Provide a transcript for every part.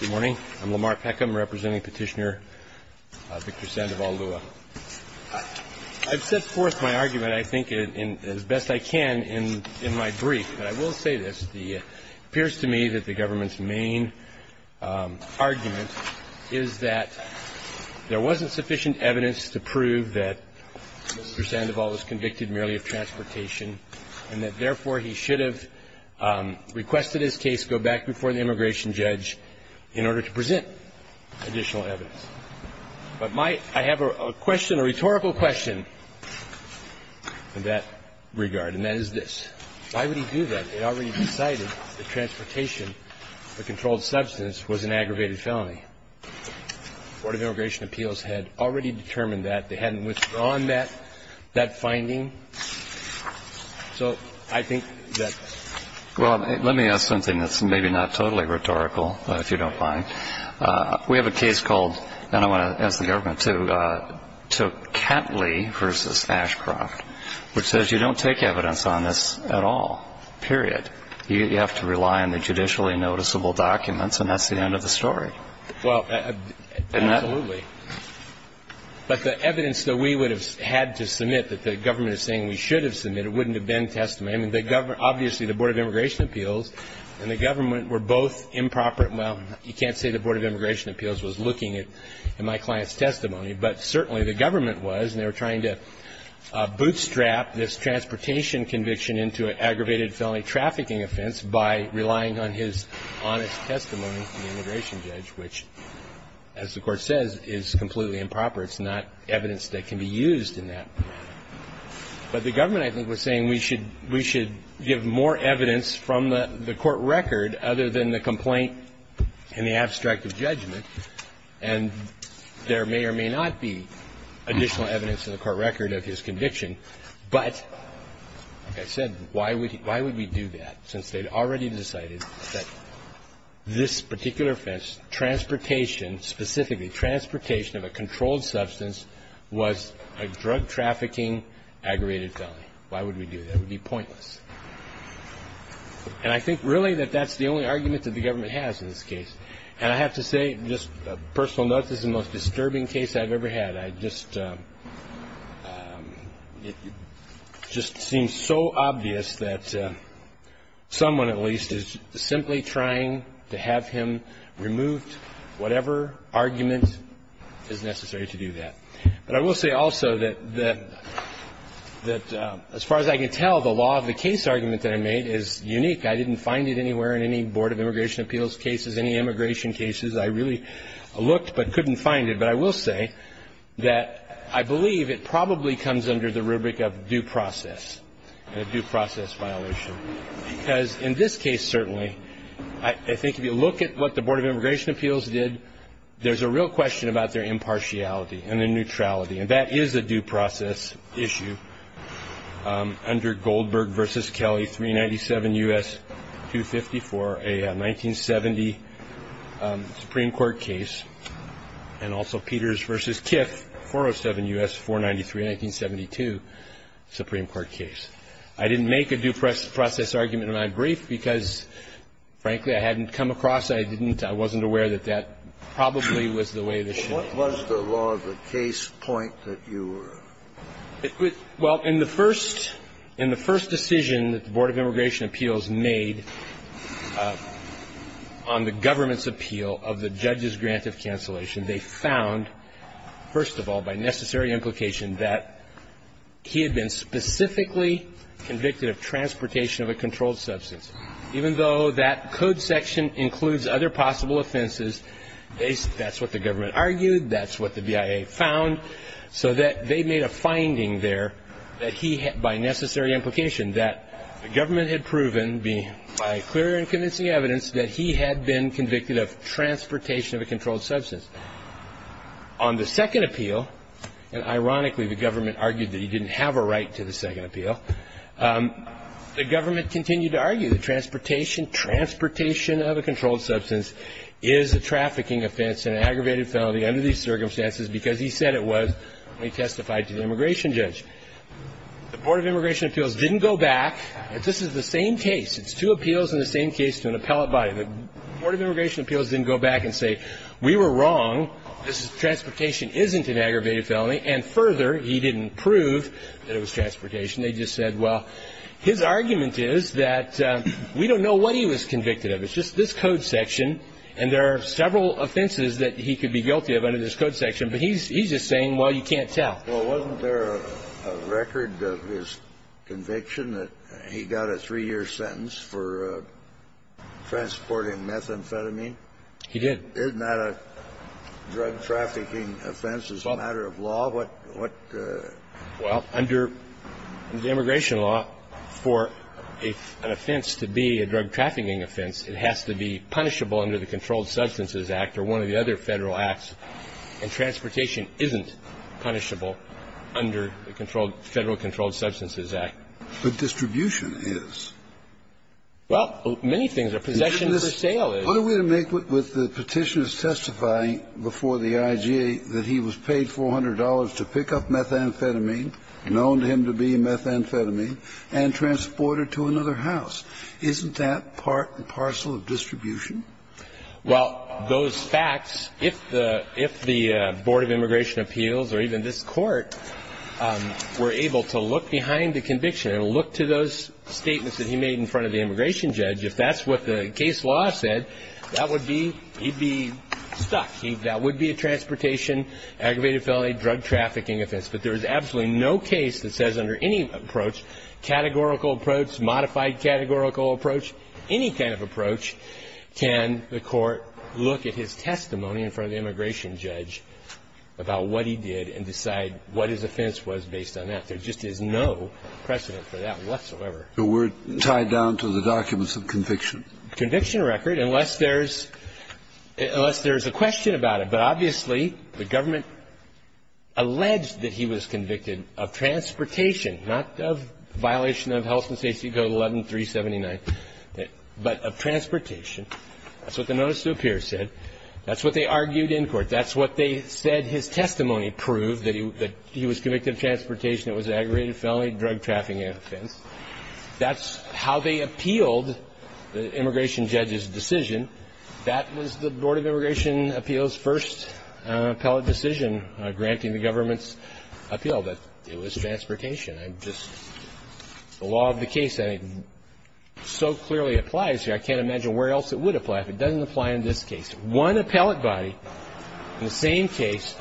Good morning. I'm Lamar Peckham, representing petitioner Victor Sandoval-Lua. I've set forth my argument, I think, as best I can in my brief, and I will say this. It appears to me that the government's main argument is that there wasn't sufficient evidence to prove that Mr. Sandoval was convicted merely of transportation and that, therefore, he should have requested his case go back before the immigration judge in order to present additional evidence. But I have a question, a rhetorical question, in that regard, and that is this. Why would he do that? They already decided that transportation, the controlled substance, was an aggravated felony. The Board of Immigration Appeals had already determined that. They hadn't withdrawn that finding. So I think that's why. Well, let me ask something that's maybe not totally rhetorical, if you don't mind. We have a case called, and I want to ask the government, too, Kentley v. Ashcroft, which says you don't take evidence on this at all, period. You have to rely on the judicially noticeable documents, and that's the end of the story. Well, absolutely. But the evidence that we would have had to submit, that the government is saying we should have submitted, wouldn't have been testimony. I mean, obviously, the Board of Immigration Appeals and the government were both improper. Well, you can't say the Board of Immigration Appeals was looking at my client's testimony, but certainly the government was, and they were trying to bootstrap this transportation conviction into an aggravated felony trafficking offense by relying on his honest testimony to the immigration judge, which, as the Court says, is completely improper. It's not evidence that can be used in that. But the government, I think, was saying we should give more evidence from the court record other than the complaint in the abstract of judgment, and there may or may not be additional evidence in the court record of his conviction. But, like I said, why would we do that since they'd already decided that this particular offense, transportation specifically, transportation of a controlled substance, was a drug trafficking aggravated felony? Why would we do that? It would be pointless. And I think, really, that that's the only argument that the government has in this case. And I have to say, just a personal note, this is the most disturbing case I've ever had. I just seem so obvious that someone, at least, is simply trying to have him removed, whatever argument is necessary to do that. But I will say also that, as far as I can tell, the law of the case argument that I made is unique. I didn't find it anywhere in any Board of Immigration Appeals cases, any immigration cases. I really looked but couldn't find it. But I will say that I believe it probably comes under the rubric of due process, a due process violation. Because in this case, certainly, I think if you look at what the Board of Immigration Appeals did, there's a real question about their impartiality and their neutrality. And that is a due process issue under Goldberg v. Kelly, 397 U.S. 254, a 1970 Supreme Court case, and also Peters v. Kiff, 407 U.S. 493, 1972 Supreme Court case. I didn't make a due process argument in my brief because, frankly, I hadn't come across it. I wasn't aware that that probably was the way it should have been. What was the law of the case point that you were? Well, in the first decision that the Board of Immigration Appeals made on the government's appeal of the judge's grant of cancellation, they found, first of all, by necessary implication that he had been specifically convicted of transportation of a controlled That's what the BIA found. So that they made a finding there that he had, by necessary implication, that the government had proven, by clear and convincing evidence, that he had been convicted of transportation of a controlled substance. On the second appeal, and ironically the government argued that he didn't have a right to the second appeal, the government continued to argue that transportation of a controlled substance is a trafficking offense and an aggravated felony under these circumstances because he said it was when he testified to the immigration judge. The Board of Immigration Appeals didn't go back. This is the same case. It's two appeals in the same case to an appellate body. The Board of Immigration Appeals didn't go back and say, we were wrong. This transportation isn't an aggravated felony. And further, he didn't prove that it was transportation. They just said, well, his argument is that we don't know what he was convicted of. It's just this code section. And there are several offenses that he could be guilty of under this code section. But he's just saying, well, you can't tell. Well, wasn't there a record of his conviction that he got a three-year sentence for transporting methamphetamine? He did. Isn't that a drug trafficking offense as a matter of law? What the ---- And transportation isn't punishable under the Controlled Substances Act. But distribution is. Well, many things. A possession for sale is. What are we to make with the Petitioner's testifying before the IGA that he was paid $400 to pick up methamphetamine and own him to be methamphetamine and transport it to another house? Isn't that part and parcel of distribution? Well, those facts, if the Board of Immigration Appeals or even this Court were able to look behind the conviction and look to those statements that he made in front of the immigration judge, if that's what the case law said, that would be ---- he'd be stuck. That would be a transportation aggravated felony drug trafficking offense. But there is absolutely no case that says under any approach, categorical approach, modified categorical approach, any kind of approach, can the Court look at his testimony in front of the immigration judge about what he did and decide what his offense was based on that. There just is no precedent for that whatsoever. So we're tied down to the documents of conviction? Conviction record, unless there's a question about it. But obviously, the government alleged that he was convicted of transportation, not of violation of health and safety code 11379, but of transportation. That's what the notice to appear said. That's what they argued in court. That's what they said his testimony proved, that he was convicted of transportation that was an aggravated felony drug trafficking offense. That's how they appealed the immigration judge's decision. That was the Board of Immigration Appeals' first appellate decision granting the government's appeal, that it was transportation. I'm just ---- the law of the case, I think, so clearly applies here. I can't imagine where else it would apply if it doesn't apply in this case. One appellate body, the same case,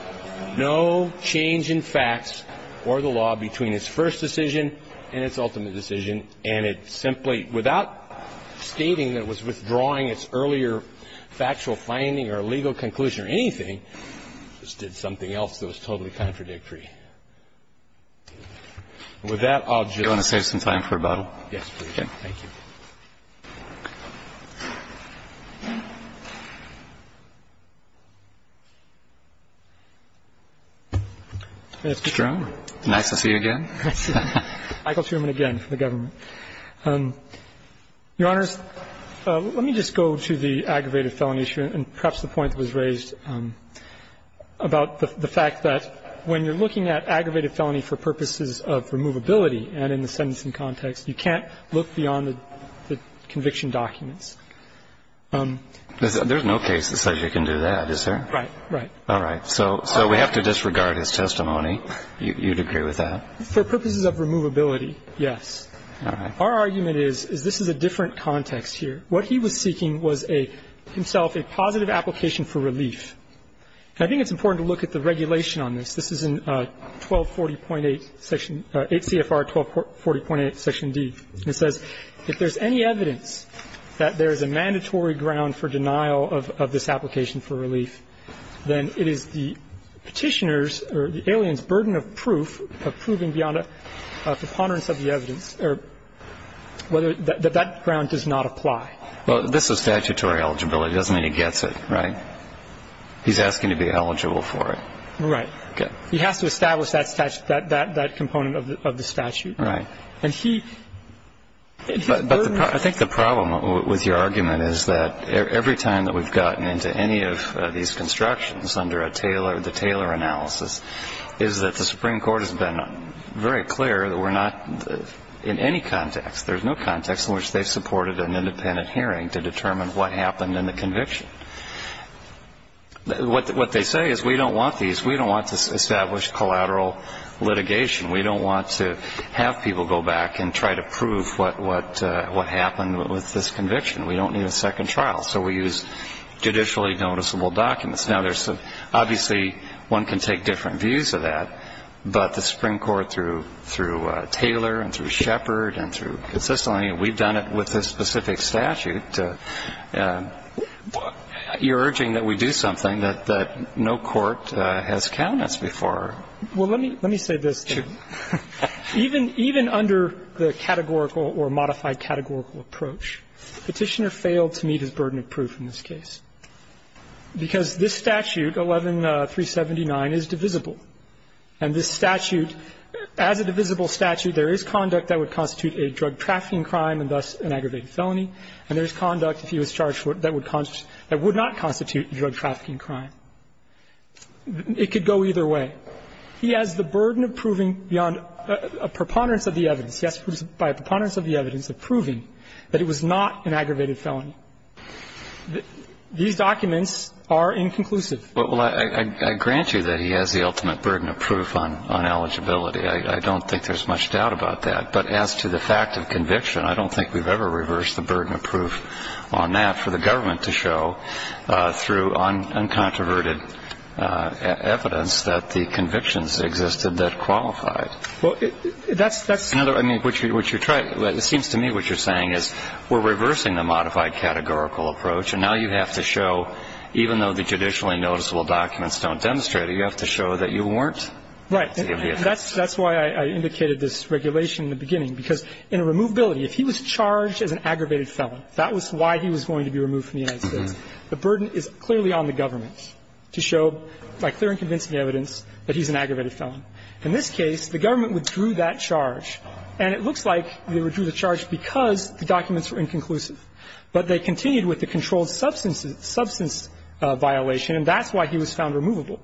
no change in facts or the law between its first decision and its ultimate decision, and it simply, without stating that it was withdrawing its earlier factual finding or legal conclusion or anything, just did something else that was totally contradictory. With that, I'll just ---- Do you want to save some time for rebuttal? Yes, please. Thank you. Mr. Strom. Nice to see you again. Nice to see you. Michael Truman again for the government. Your Honors, let me just go to the aggravated felony issue and perhaps the point that was raised about the fact that when you're looking at aggravated felony for purposes of removability and in the sentencing context, you can't look beyond the conviction documents. There's no case that says you can do that, is there? Right, right. All right. So we have to disregard his testimony. You'd agree with that? For purposes of removability, yes. All right. Our argument is, is this is a different context here. What he was seeking was a, himself, a positive application for relief. And I think it's important to look at the regulation on this. This is in 1240.8, 8 CFR 1240.8, Section D. It says, If there's any evidence that there is a mandatory ground for denial of this application for relief, then it is the petitioner's or the alien's burden of proof, of proving beyond a preponderance of the evidence, that that ground does not apply. Well, this is statutory eligibility. It doesn't mean he gets it, right? He's asking to be eligible for it. Right. He has to establish that component of the statute. Right. But I think the problem with your argument is that every time that we've gotten into any of these constructions under a Taylor, the Taylor analysis, is that the Supreme Court has been very clear that we're not in any context, there's no context in which they've supported an independent hearing to determine what happened in the conviction. What they say is we don't want these. We don't want to establish collateral litigation. We don't want to have people go back and try to prove what happened with this conviction. We don't need a second trial. So we use judicially noticeable documents. Now, there's obviously one can take different views of that, but the Supreme Court through Taylor and through Shepard and through consistently, we've done it with this specific statute. You're urging that we do something that no court has counted before. Well, let me say this, too. Even under the categorical or modified categorical approach, the petitioner has failed to meet his burden of proof in this case, because this statute, 11-379, is divisible. And this statute, as a divisible statute, there is conduct that would constitute a drug trafficking crime and thus an aggravated felony, and there's conduct, if he was charged for it, that would not constitute a drug trafficking crime. It could go either way. He has the burden of proving beyond a preponderance of the evidence, yes, by a preponderance of the evidence of proving that it was not an aggravated felony. These documents are inconclusive. Well, I grant you that he has the ultimate burden of proof on eligibility. I don't think there's much doubt about that. But as to the fact of conviction, I don't think we've ever reversed the burden of proof on that for the government to show through uncontroverted evidence that the convictions existed that qualified. Well, that's, that's another, I mean, what you're trying, it seems to me what you're saying is we're reversing the modified categorical approach, and now you have to show, even though the judicially noticeable documents don't demonstrate it, you have to show that you weren't. Right. That's why I indicated this regulation in the beginning, because in a removability, if he was charged as an aggravated felon, that was why he was going to be removed from the United States. The burden is clearly on the government to show by clear and convincing evidence that he's an aggravated felon. In this case, the government withdrew that charge. And it looks like they withdrew the charge because the documents were inconclusive. But they continued with the controlled substance violation, and that's why he was found removable.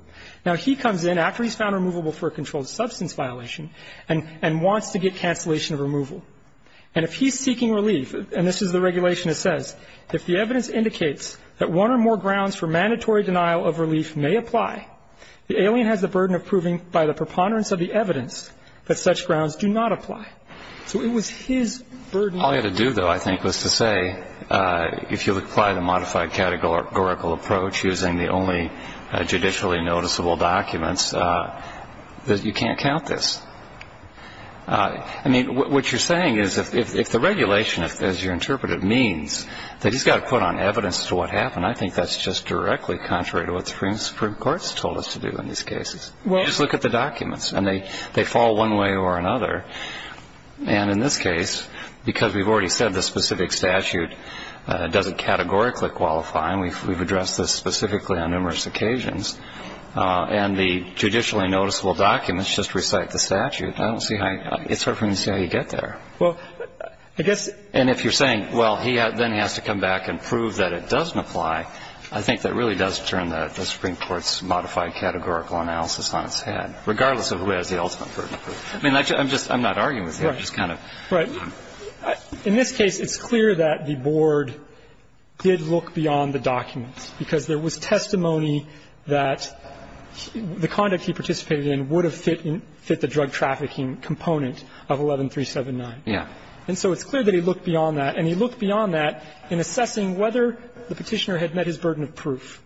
Now, he comes in after he's found removable for a controlled substance violation and wants to get cancellation of removal. And if he's seeking relief, and this is the regulation that says, if the evidence indicates that one or more grounds for mandatory denial of relief may apply, the alien has the burden of proving by the preponderance of the evidence that such grounds do not apply. So it was his burden. All you had to do, though, I think, was to say, if you apply the modified categorical approach using the only judicially noticeable documents, that you can't count this. I mean, what you're saying is if the regulation, as you interpret it, means that he's got to put on evidence to what happened, I think that's just directly contrary to what the Supreme Court has told us to do in these cases. Just look at the documents, and they fall one way or another. And in this case, because we've already said the specific statute doesn't categorically qualify, and we've addressed this specifically on numerous occasions, and the judicially noticeable documents just recite the statute, I don't see how you get there. And if you're saying, well, he then has to come back and prove that it doesn't apply, I think that really does turn the Supreme Court's modified categorical analysis on its head, regardless of who has the ultimate burden of proof. I mean, I'm not arguing with you. I'm just kind of. Right. In this case, it's clear that the board did look beyond the documents, because there was testimony that the conduct he participated in would have fit the drug trafficking component of 11379. Yeah. And so it's clear that he looked beyond that. And he looked beyond that in assessing whether the petitioner had met his burden of proof,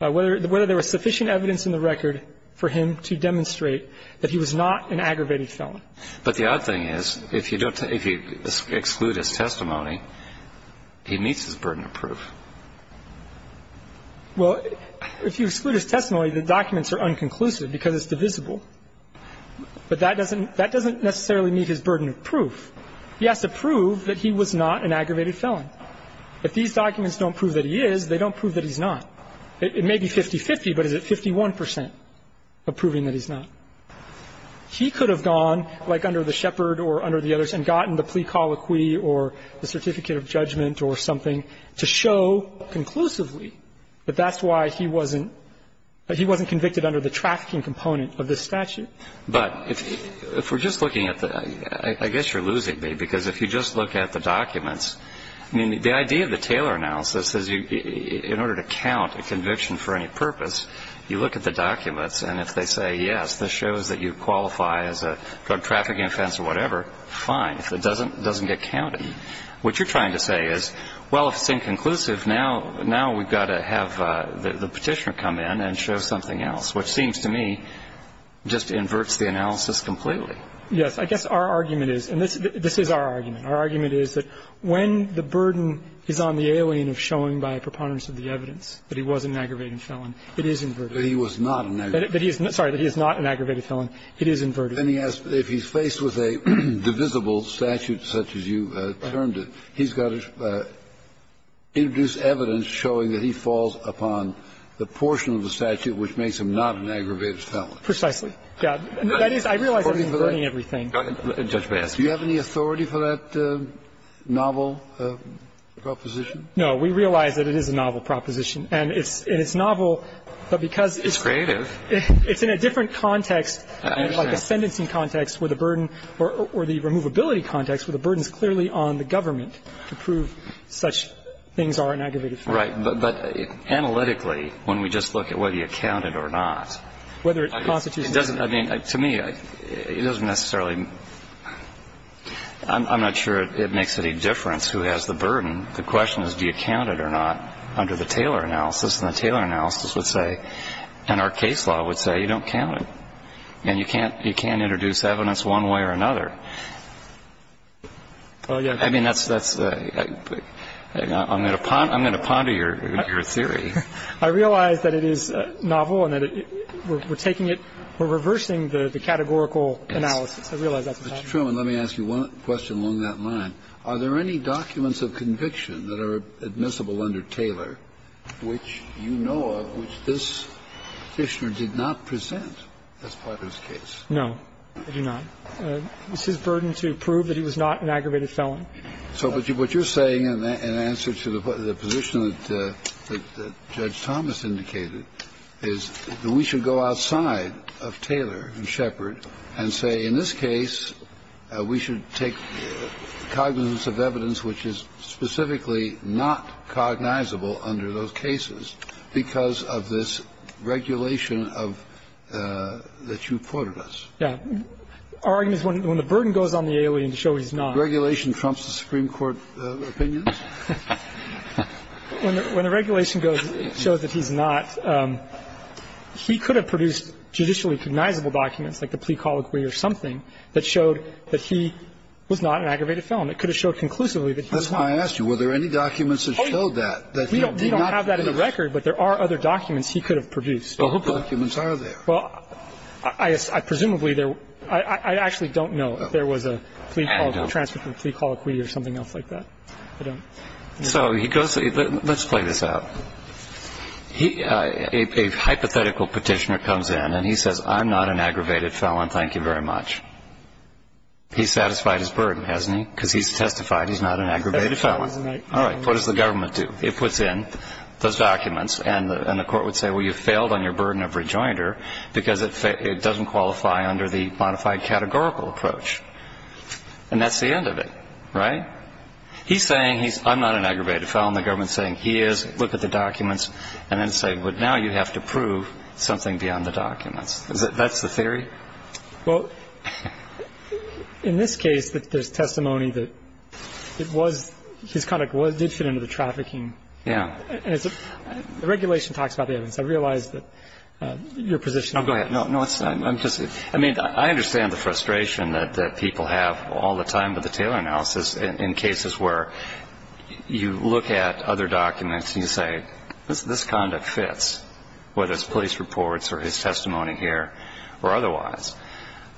whether there was sufficient evidence in the record for him to demonstrate that he was not an aggravated felon. But the odd thing is, if you exclude his testimony, he meets his burden of proof. Well, if you exclude his testimony, the documents are unconclusive because it's divisible. But that doesn't necessarily meet his burden of proof. He has to prove that he was not an aggravated felon. If these documents don't prove that he is, they don't prove that he's not. It may be 50-50, but is it 51 percent of proving that he's not? He could have gone like under the Shepherd or under the others and gotten the plea colloquy or the certificate of judgment or something to show conclusively that that's why he wasn't convicted under the trafficking component of this statute. But if we're just looking at the ‑‑ I guess you're losing me, because if you just look at the documents, I mean, the idea of the Taylor analysis is in order to count a conviction for any purpose, you look at the documents, and if they say, yes, this shows that you qualify as a drug trafficking offense or whatever, fine. If it doesn't, it doesn't get counted. But what you're trying to say is, well, if it's inconclusive, now we've got to have the Petitioner come in and show something else, which seems to me just inverts the analysis completely. Yes. I guess our argument is ‑‑ and this is our argument. Our argument is that when the burden is on the alien of showing by a preponderance of the evidence that he was an aggravated felon, it is inverted. That he was not an aggravated felon. Sorry, that he is not an aggravated felon. It is inverted. And he asked if he's faced with a divisible statute such as you termed it, he's got to introduce evidence showing that he falls upon the portion of the statute which makes him not an aggravated felon. Precisely. Yeah. That is, I realize I'm inverting everything. Go ahead, Judge Mayask. Do you have any authority for that novel proposition? No. We realize that it is a novel proposition, and it's novel, but because it's ‑‑ It's creative. It's in a different context. I understand. Like a sentencing context where the burden ‑‑ or the removability context where the burden is clearly on the government to prove such things are an aggravated felon. Right. But analytically, when we just look at whether you count it or not. Whether it constitutes ‑‑ It doesn't, I mean, to me, it doesn't necessarily ‑‑ I'm not sure it makes any difference who has the burden. The question is do you count it or not under the Taylor analysis. The Taylor analysis would say, and our case law would say, you don't count it. And you can't introduce evidence one way or another. I mean, that's ‑‑ I'm going to ponder your theory. I realize that it is novel and that we're taking it ‑‑ we're reversing the categorical analysis. I realize that's a fact. Mr. Truman, let me ask you one question along that line. Are there any documents of conviction that are admissible under Taylor which you know of which this Petitioner did not present as part of his case? No, I do not. It's his burden to prove that he was not an aggravated felon. So what you're saying in answer to the position that Judge Thomas indicated is that we should go outside of Taylor and Shepard and say, in this case, we should take cognizance of evidence which is specifically not cognizable under those cases because of this regulation of ‑‑ that you quoted us. Yeah. Our argument is when the burden goes on the alien to show he's not ‑‑ Regulation trumps the Supreme Court opinions? When the regulation goes ‑‑ shows that he's not, he could have produced judicially like the plea colloquy or something that showed that he was not an aggravated felon. It could have showed conclusively that he was not. That's why I asked you, were there any documents that showed that, that he did not produce? We don't have that in the record, but there are other documents he could have produced. Well, whose documents are there? Well, I presumably there ‑‑ I actually don't know if there was a plea colloquy or something else like that. I don't. So he goes ‑‑ let's play this out. A hypothetical petitioner comes in and he says, I'm not an aggravated felon. Thank you very much. He's satisfied his burden, hasn't he? Because he's testified he's not an aggravated felon. All right. What does the government do? It puts in those documents and the court would say, well, you failed on your burden of rejoinder because it doesn't qualify under the modified categorical approach. And that's the end of it. Right? He's saying he's ‑‑ I'm not an aggravated felon. The government is saying he is. Look at the documents. And then say, well, now you have to prove something beyond the documents. That's the theory? Well, in this case, there's testimony that it was ‑‑ his conduct did fit into the trafficking. Yeah. The regulation talks about the evidence. I realize that your position ‑‑ Oh, go ahead. No, no, I'm just ‑‑ I mean, I understand the frustration that people have all the time in cases where you look at other documents and you say, this conduct fits, whether it's police reports or his testimony here or otherwise.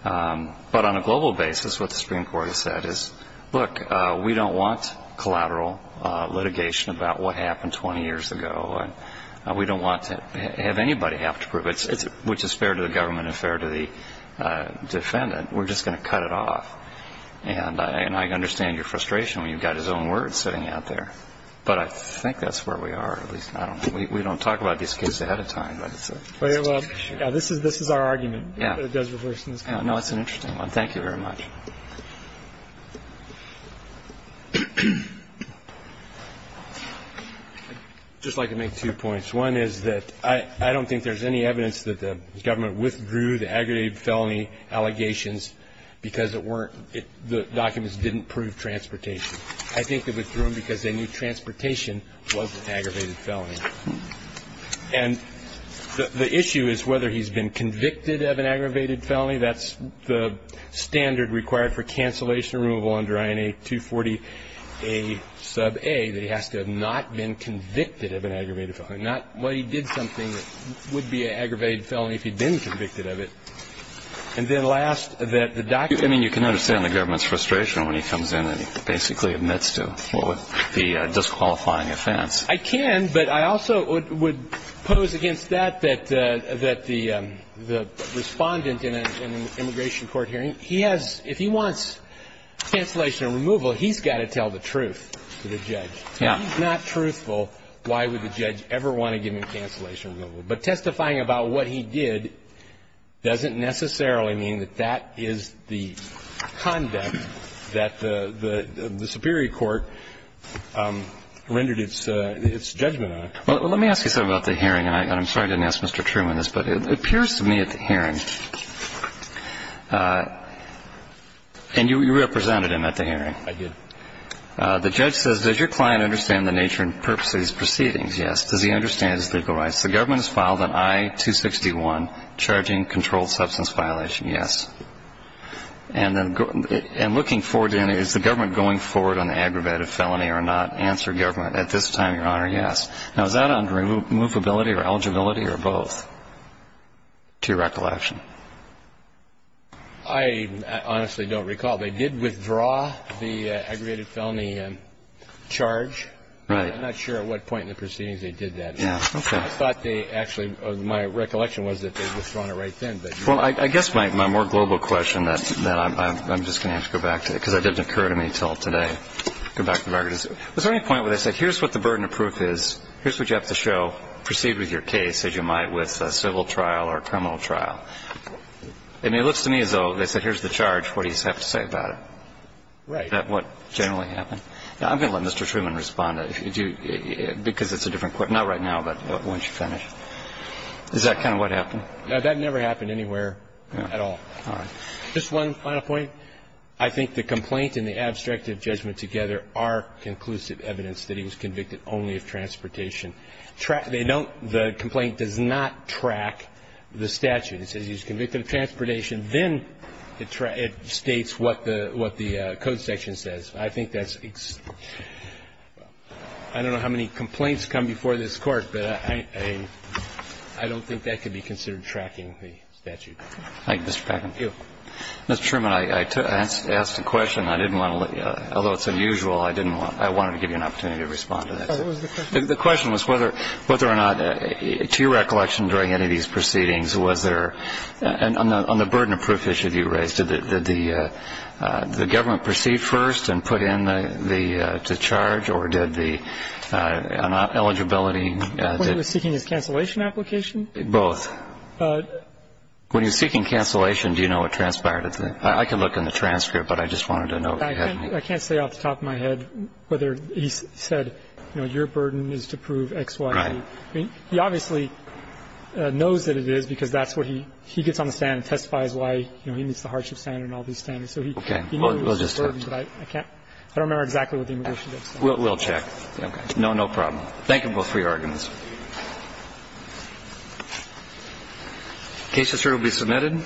But on a global basis, what the Supreme Court has said is, look, we don't want collateral litigation about what happened 20 years ago. We don't want to have anybody have to prove it, which is fair to the government and fair to the defendant. We're just going to cut it off. And I understand your frustration when you've got his own words sitting out there. But I think that's where we are. At least, I don't know. We don't talk about these cases ahead of time. But it's ‑‑ Yeah, this is our argument. Yeah. That it does reverse in this case. No, it's an interesting one. Thank you very much. I'd just like to make two points. One is that I don't think there's any evidence that the government withdrew the aggregated felony allegations because it weren't ‑‑ the documents didn't prove transportation. I think they withdrew them because they knew transportation was an aggravated felony. And the issue is whether he's been convicted of an aggravated felony. That's the standard required for cancellation or removal under INA 240a sub a, that he has to have not been convicted of an aggravated felony. Not, well, he did something that would be an aggravated felony if he'd been convicted of it. And then last, that the documents ‑‑ I mean, you can understand the government's frustration when he comes in and basically admits to the disqualifying offense. I can. But I also would pose against that that the respondent in an immigration court hearing, he has ‑‑ if he wants cancellation or removal, he's got to tell the truth to the judge. Yeah. If he's not truthful, why would the judge ever want to give him cancellation or removal? But testifying about what he did doesn't necessarily mean that that is the conduct that the superior court rendered its judgment on. Well, let me ask you something about the hearing. And I'm sorry I didn't ask Mr. Truman this, but it appears to me at the hearing, and you represented him at the hearing. I did. The judge says, does your client understand the nature and purpose of these proceedings? Yes. Does he understand his legal rights? Yes. The government has filed an I‑261 charging controlled substance violation. Yes. And looking forward, is the government going forward on the aggravated felony or not? Answer, government, at this time, Your Honor, yes. Now, is that on removability or eligibility or both, to your recollection? I honestly don't recall. They did withdraw the aggravated felony charge. Right. I'm not sure at what point in the proceedings they did that. Yeah, okay. I thought they actually ‑‑ my recollection was that they withdrew it right then. Well, I guess my more global question that I'm just going to have to go back to, because that didn't occur to me until today. Go back to the record. Was there any point where they said, here's what the burden of proof is, here's what you have to show, proceed with your case as you might with a civil trial or a criminal trial? I mean, it looks to me as though they said, here's the charge, what do you have to say about it? Right. About what generally happened. I'm going to let Mr. Truman respond, because it's a different question. Not right now, but once you finish. Is that kind of what happened? No, that never happened anywhere at all. All right. Just one final point. I think the complaint and the abstractive judgment together are conclusive evidence that he was convicted only of transportation. They don't ‑‑ the complaint does not track the statute. It says he was convicted of transportation. Then it states what the code section says. I think that's ‑‑ I don't know how many complaints come before this Court, but I don't think that could be considered tracking the statute. Thank you, Mr. Packin. Thank you. Mr. Truman, I asked a question. I didn't want to ‑‑ although it's unusual, I didn't want ‑‑ I wanted to give you an opportunity to respond to that. Oh, it was the question? The question was whether or not, to your recollection during any of these proceedings, on the burden of proof issue that you raised, did the government proceed first and put in the charge, or did the eligibility ‑‑ When he was seeking his cancellation application? Both. When he was seeking cancellation, do you know what transpired? I can look in the transcript, but I just wanted to know. I can't say off the top of my head whether he said, you know, your burden is to prove X, Y, Z. Right. He obviously knows that it is, because that's where he gets on the stand and testifies why, you know, he meets the hardship standard and all these standards. Okay. We'll just have to ‑‑ But I can't ‑‑ I don't remember exactly what the immigration judge said. We'll check. Okay. No problem. Thank you both for your arguments. The case is here to be submitted.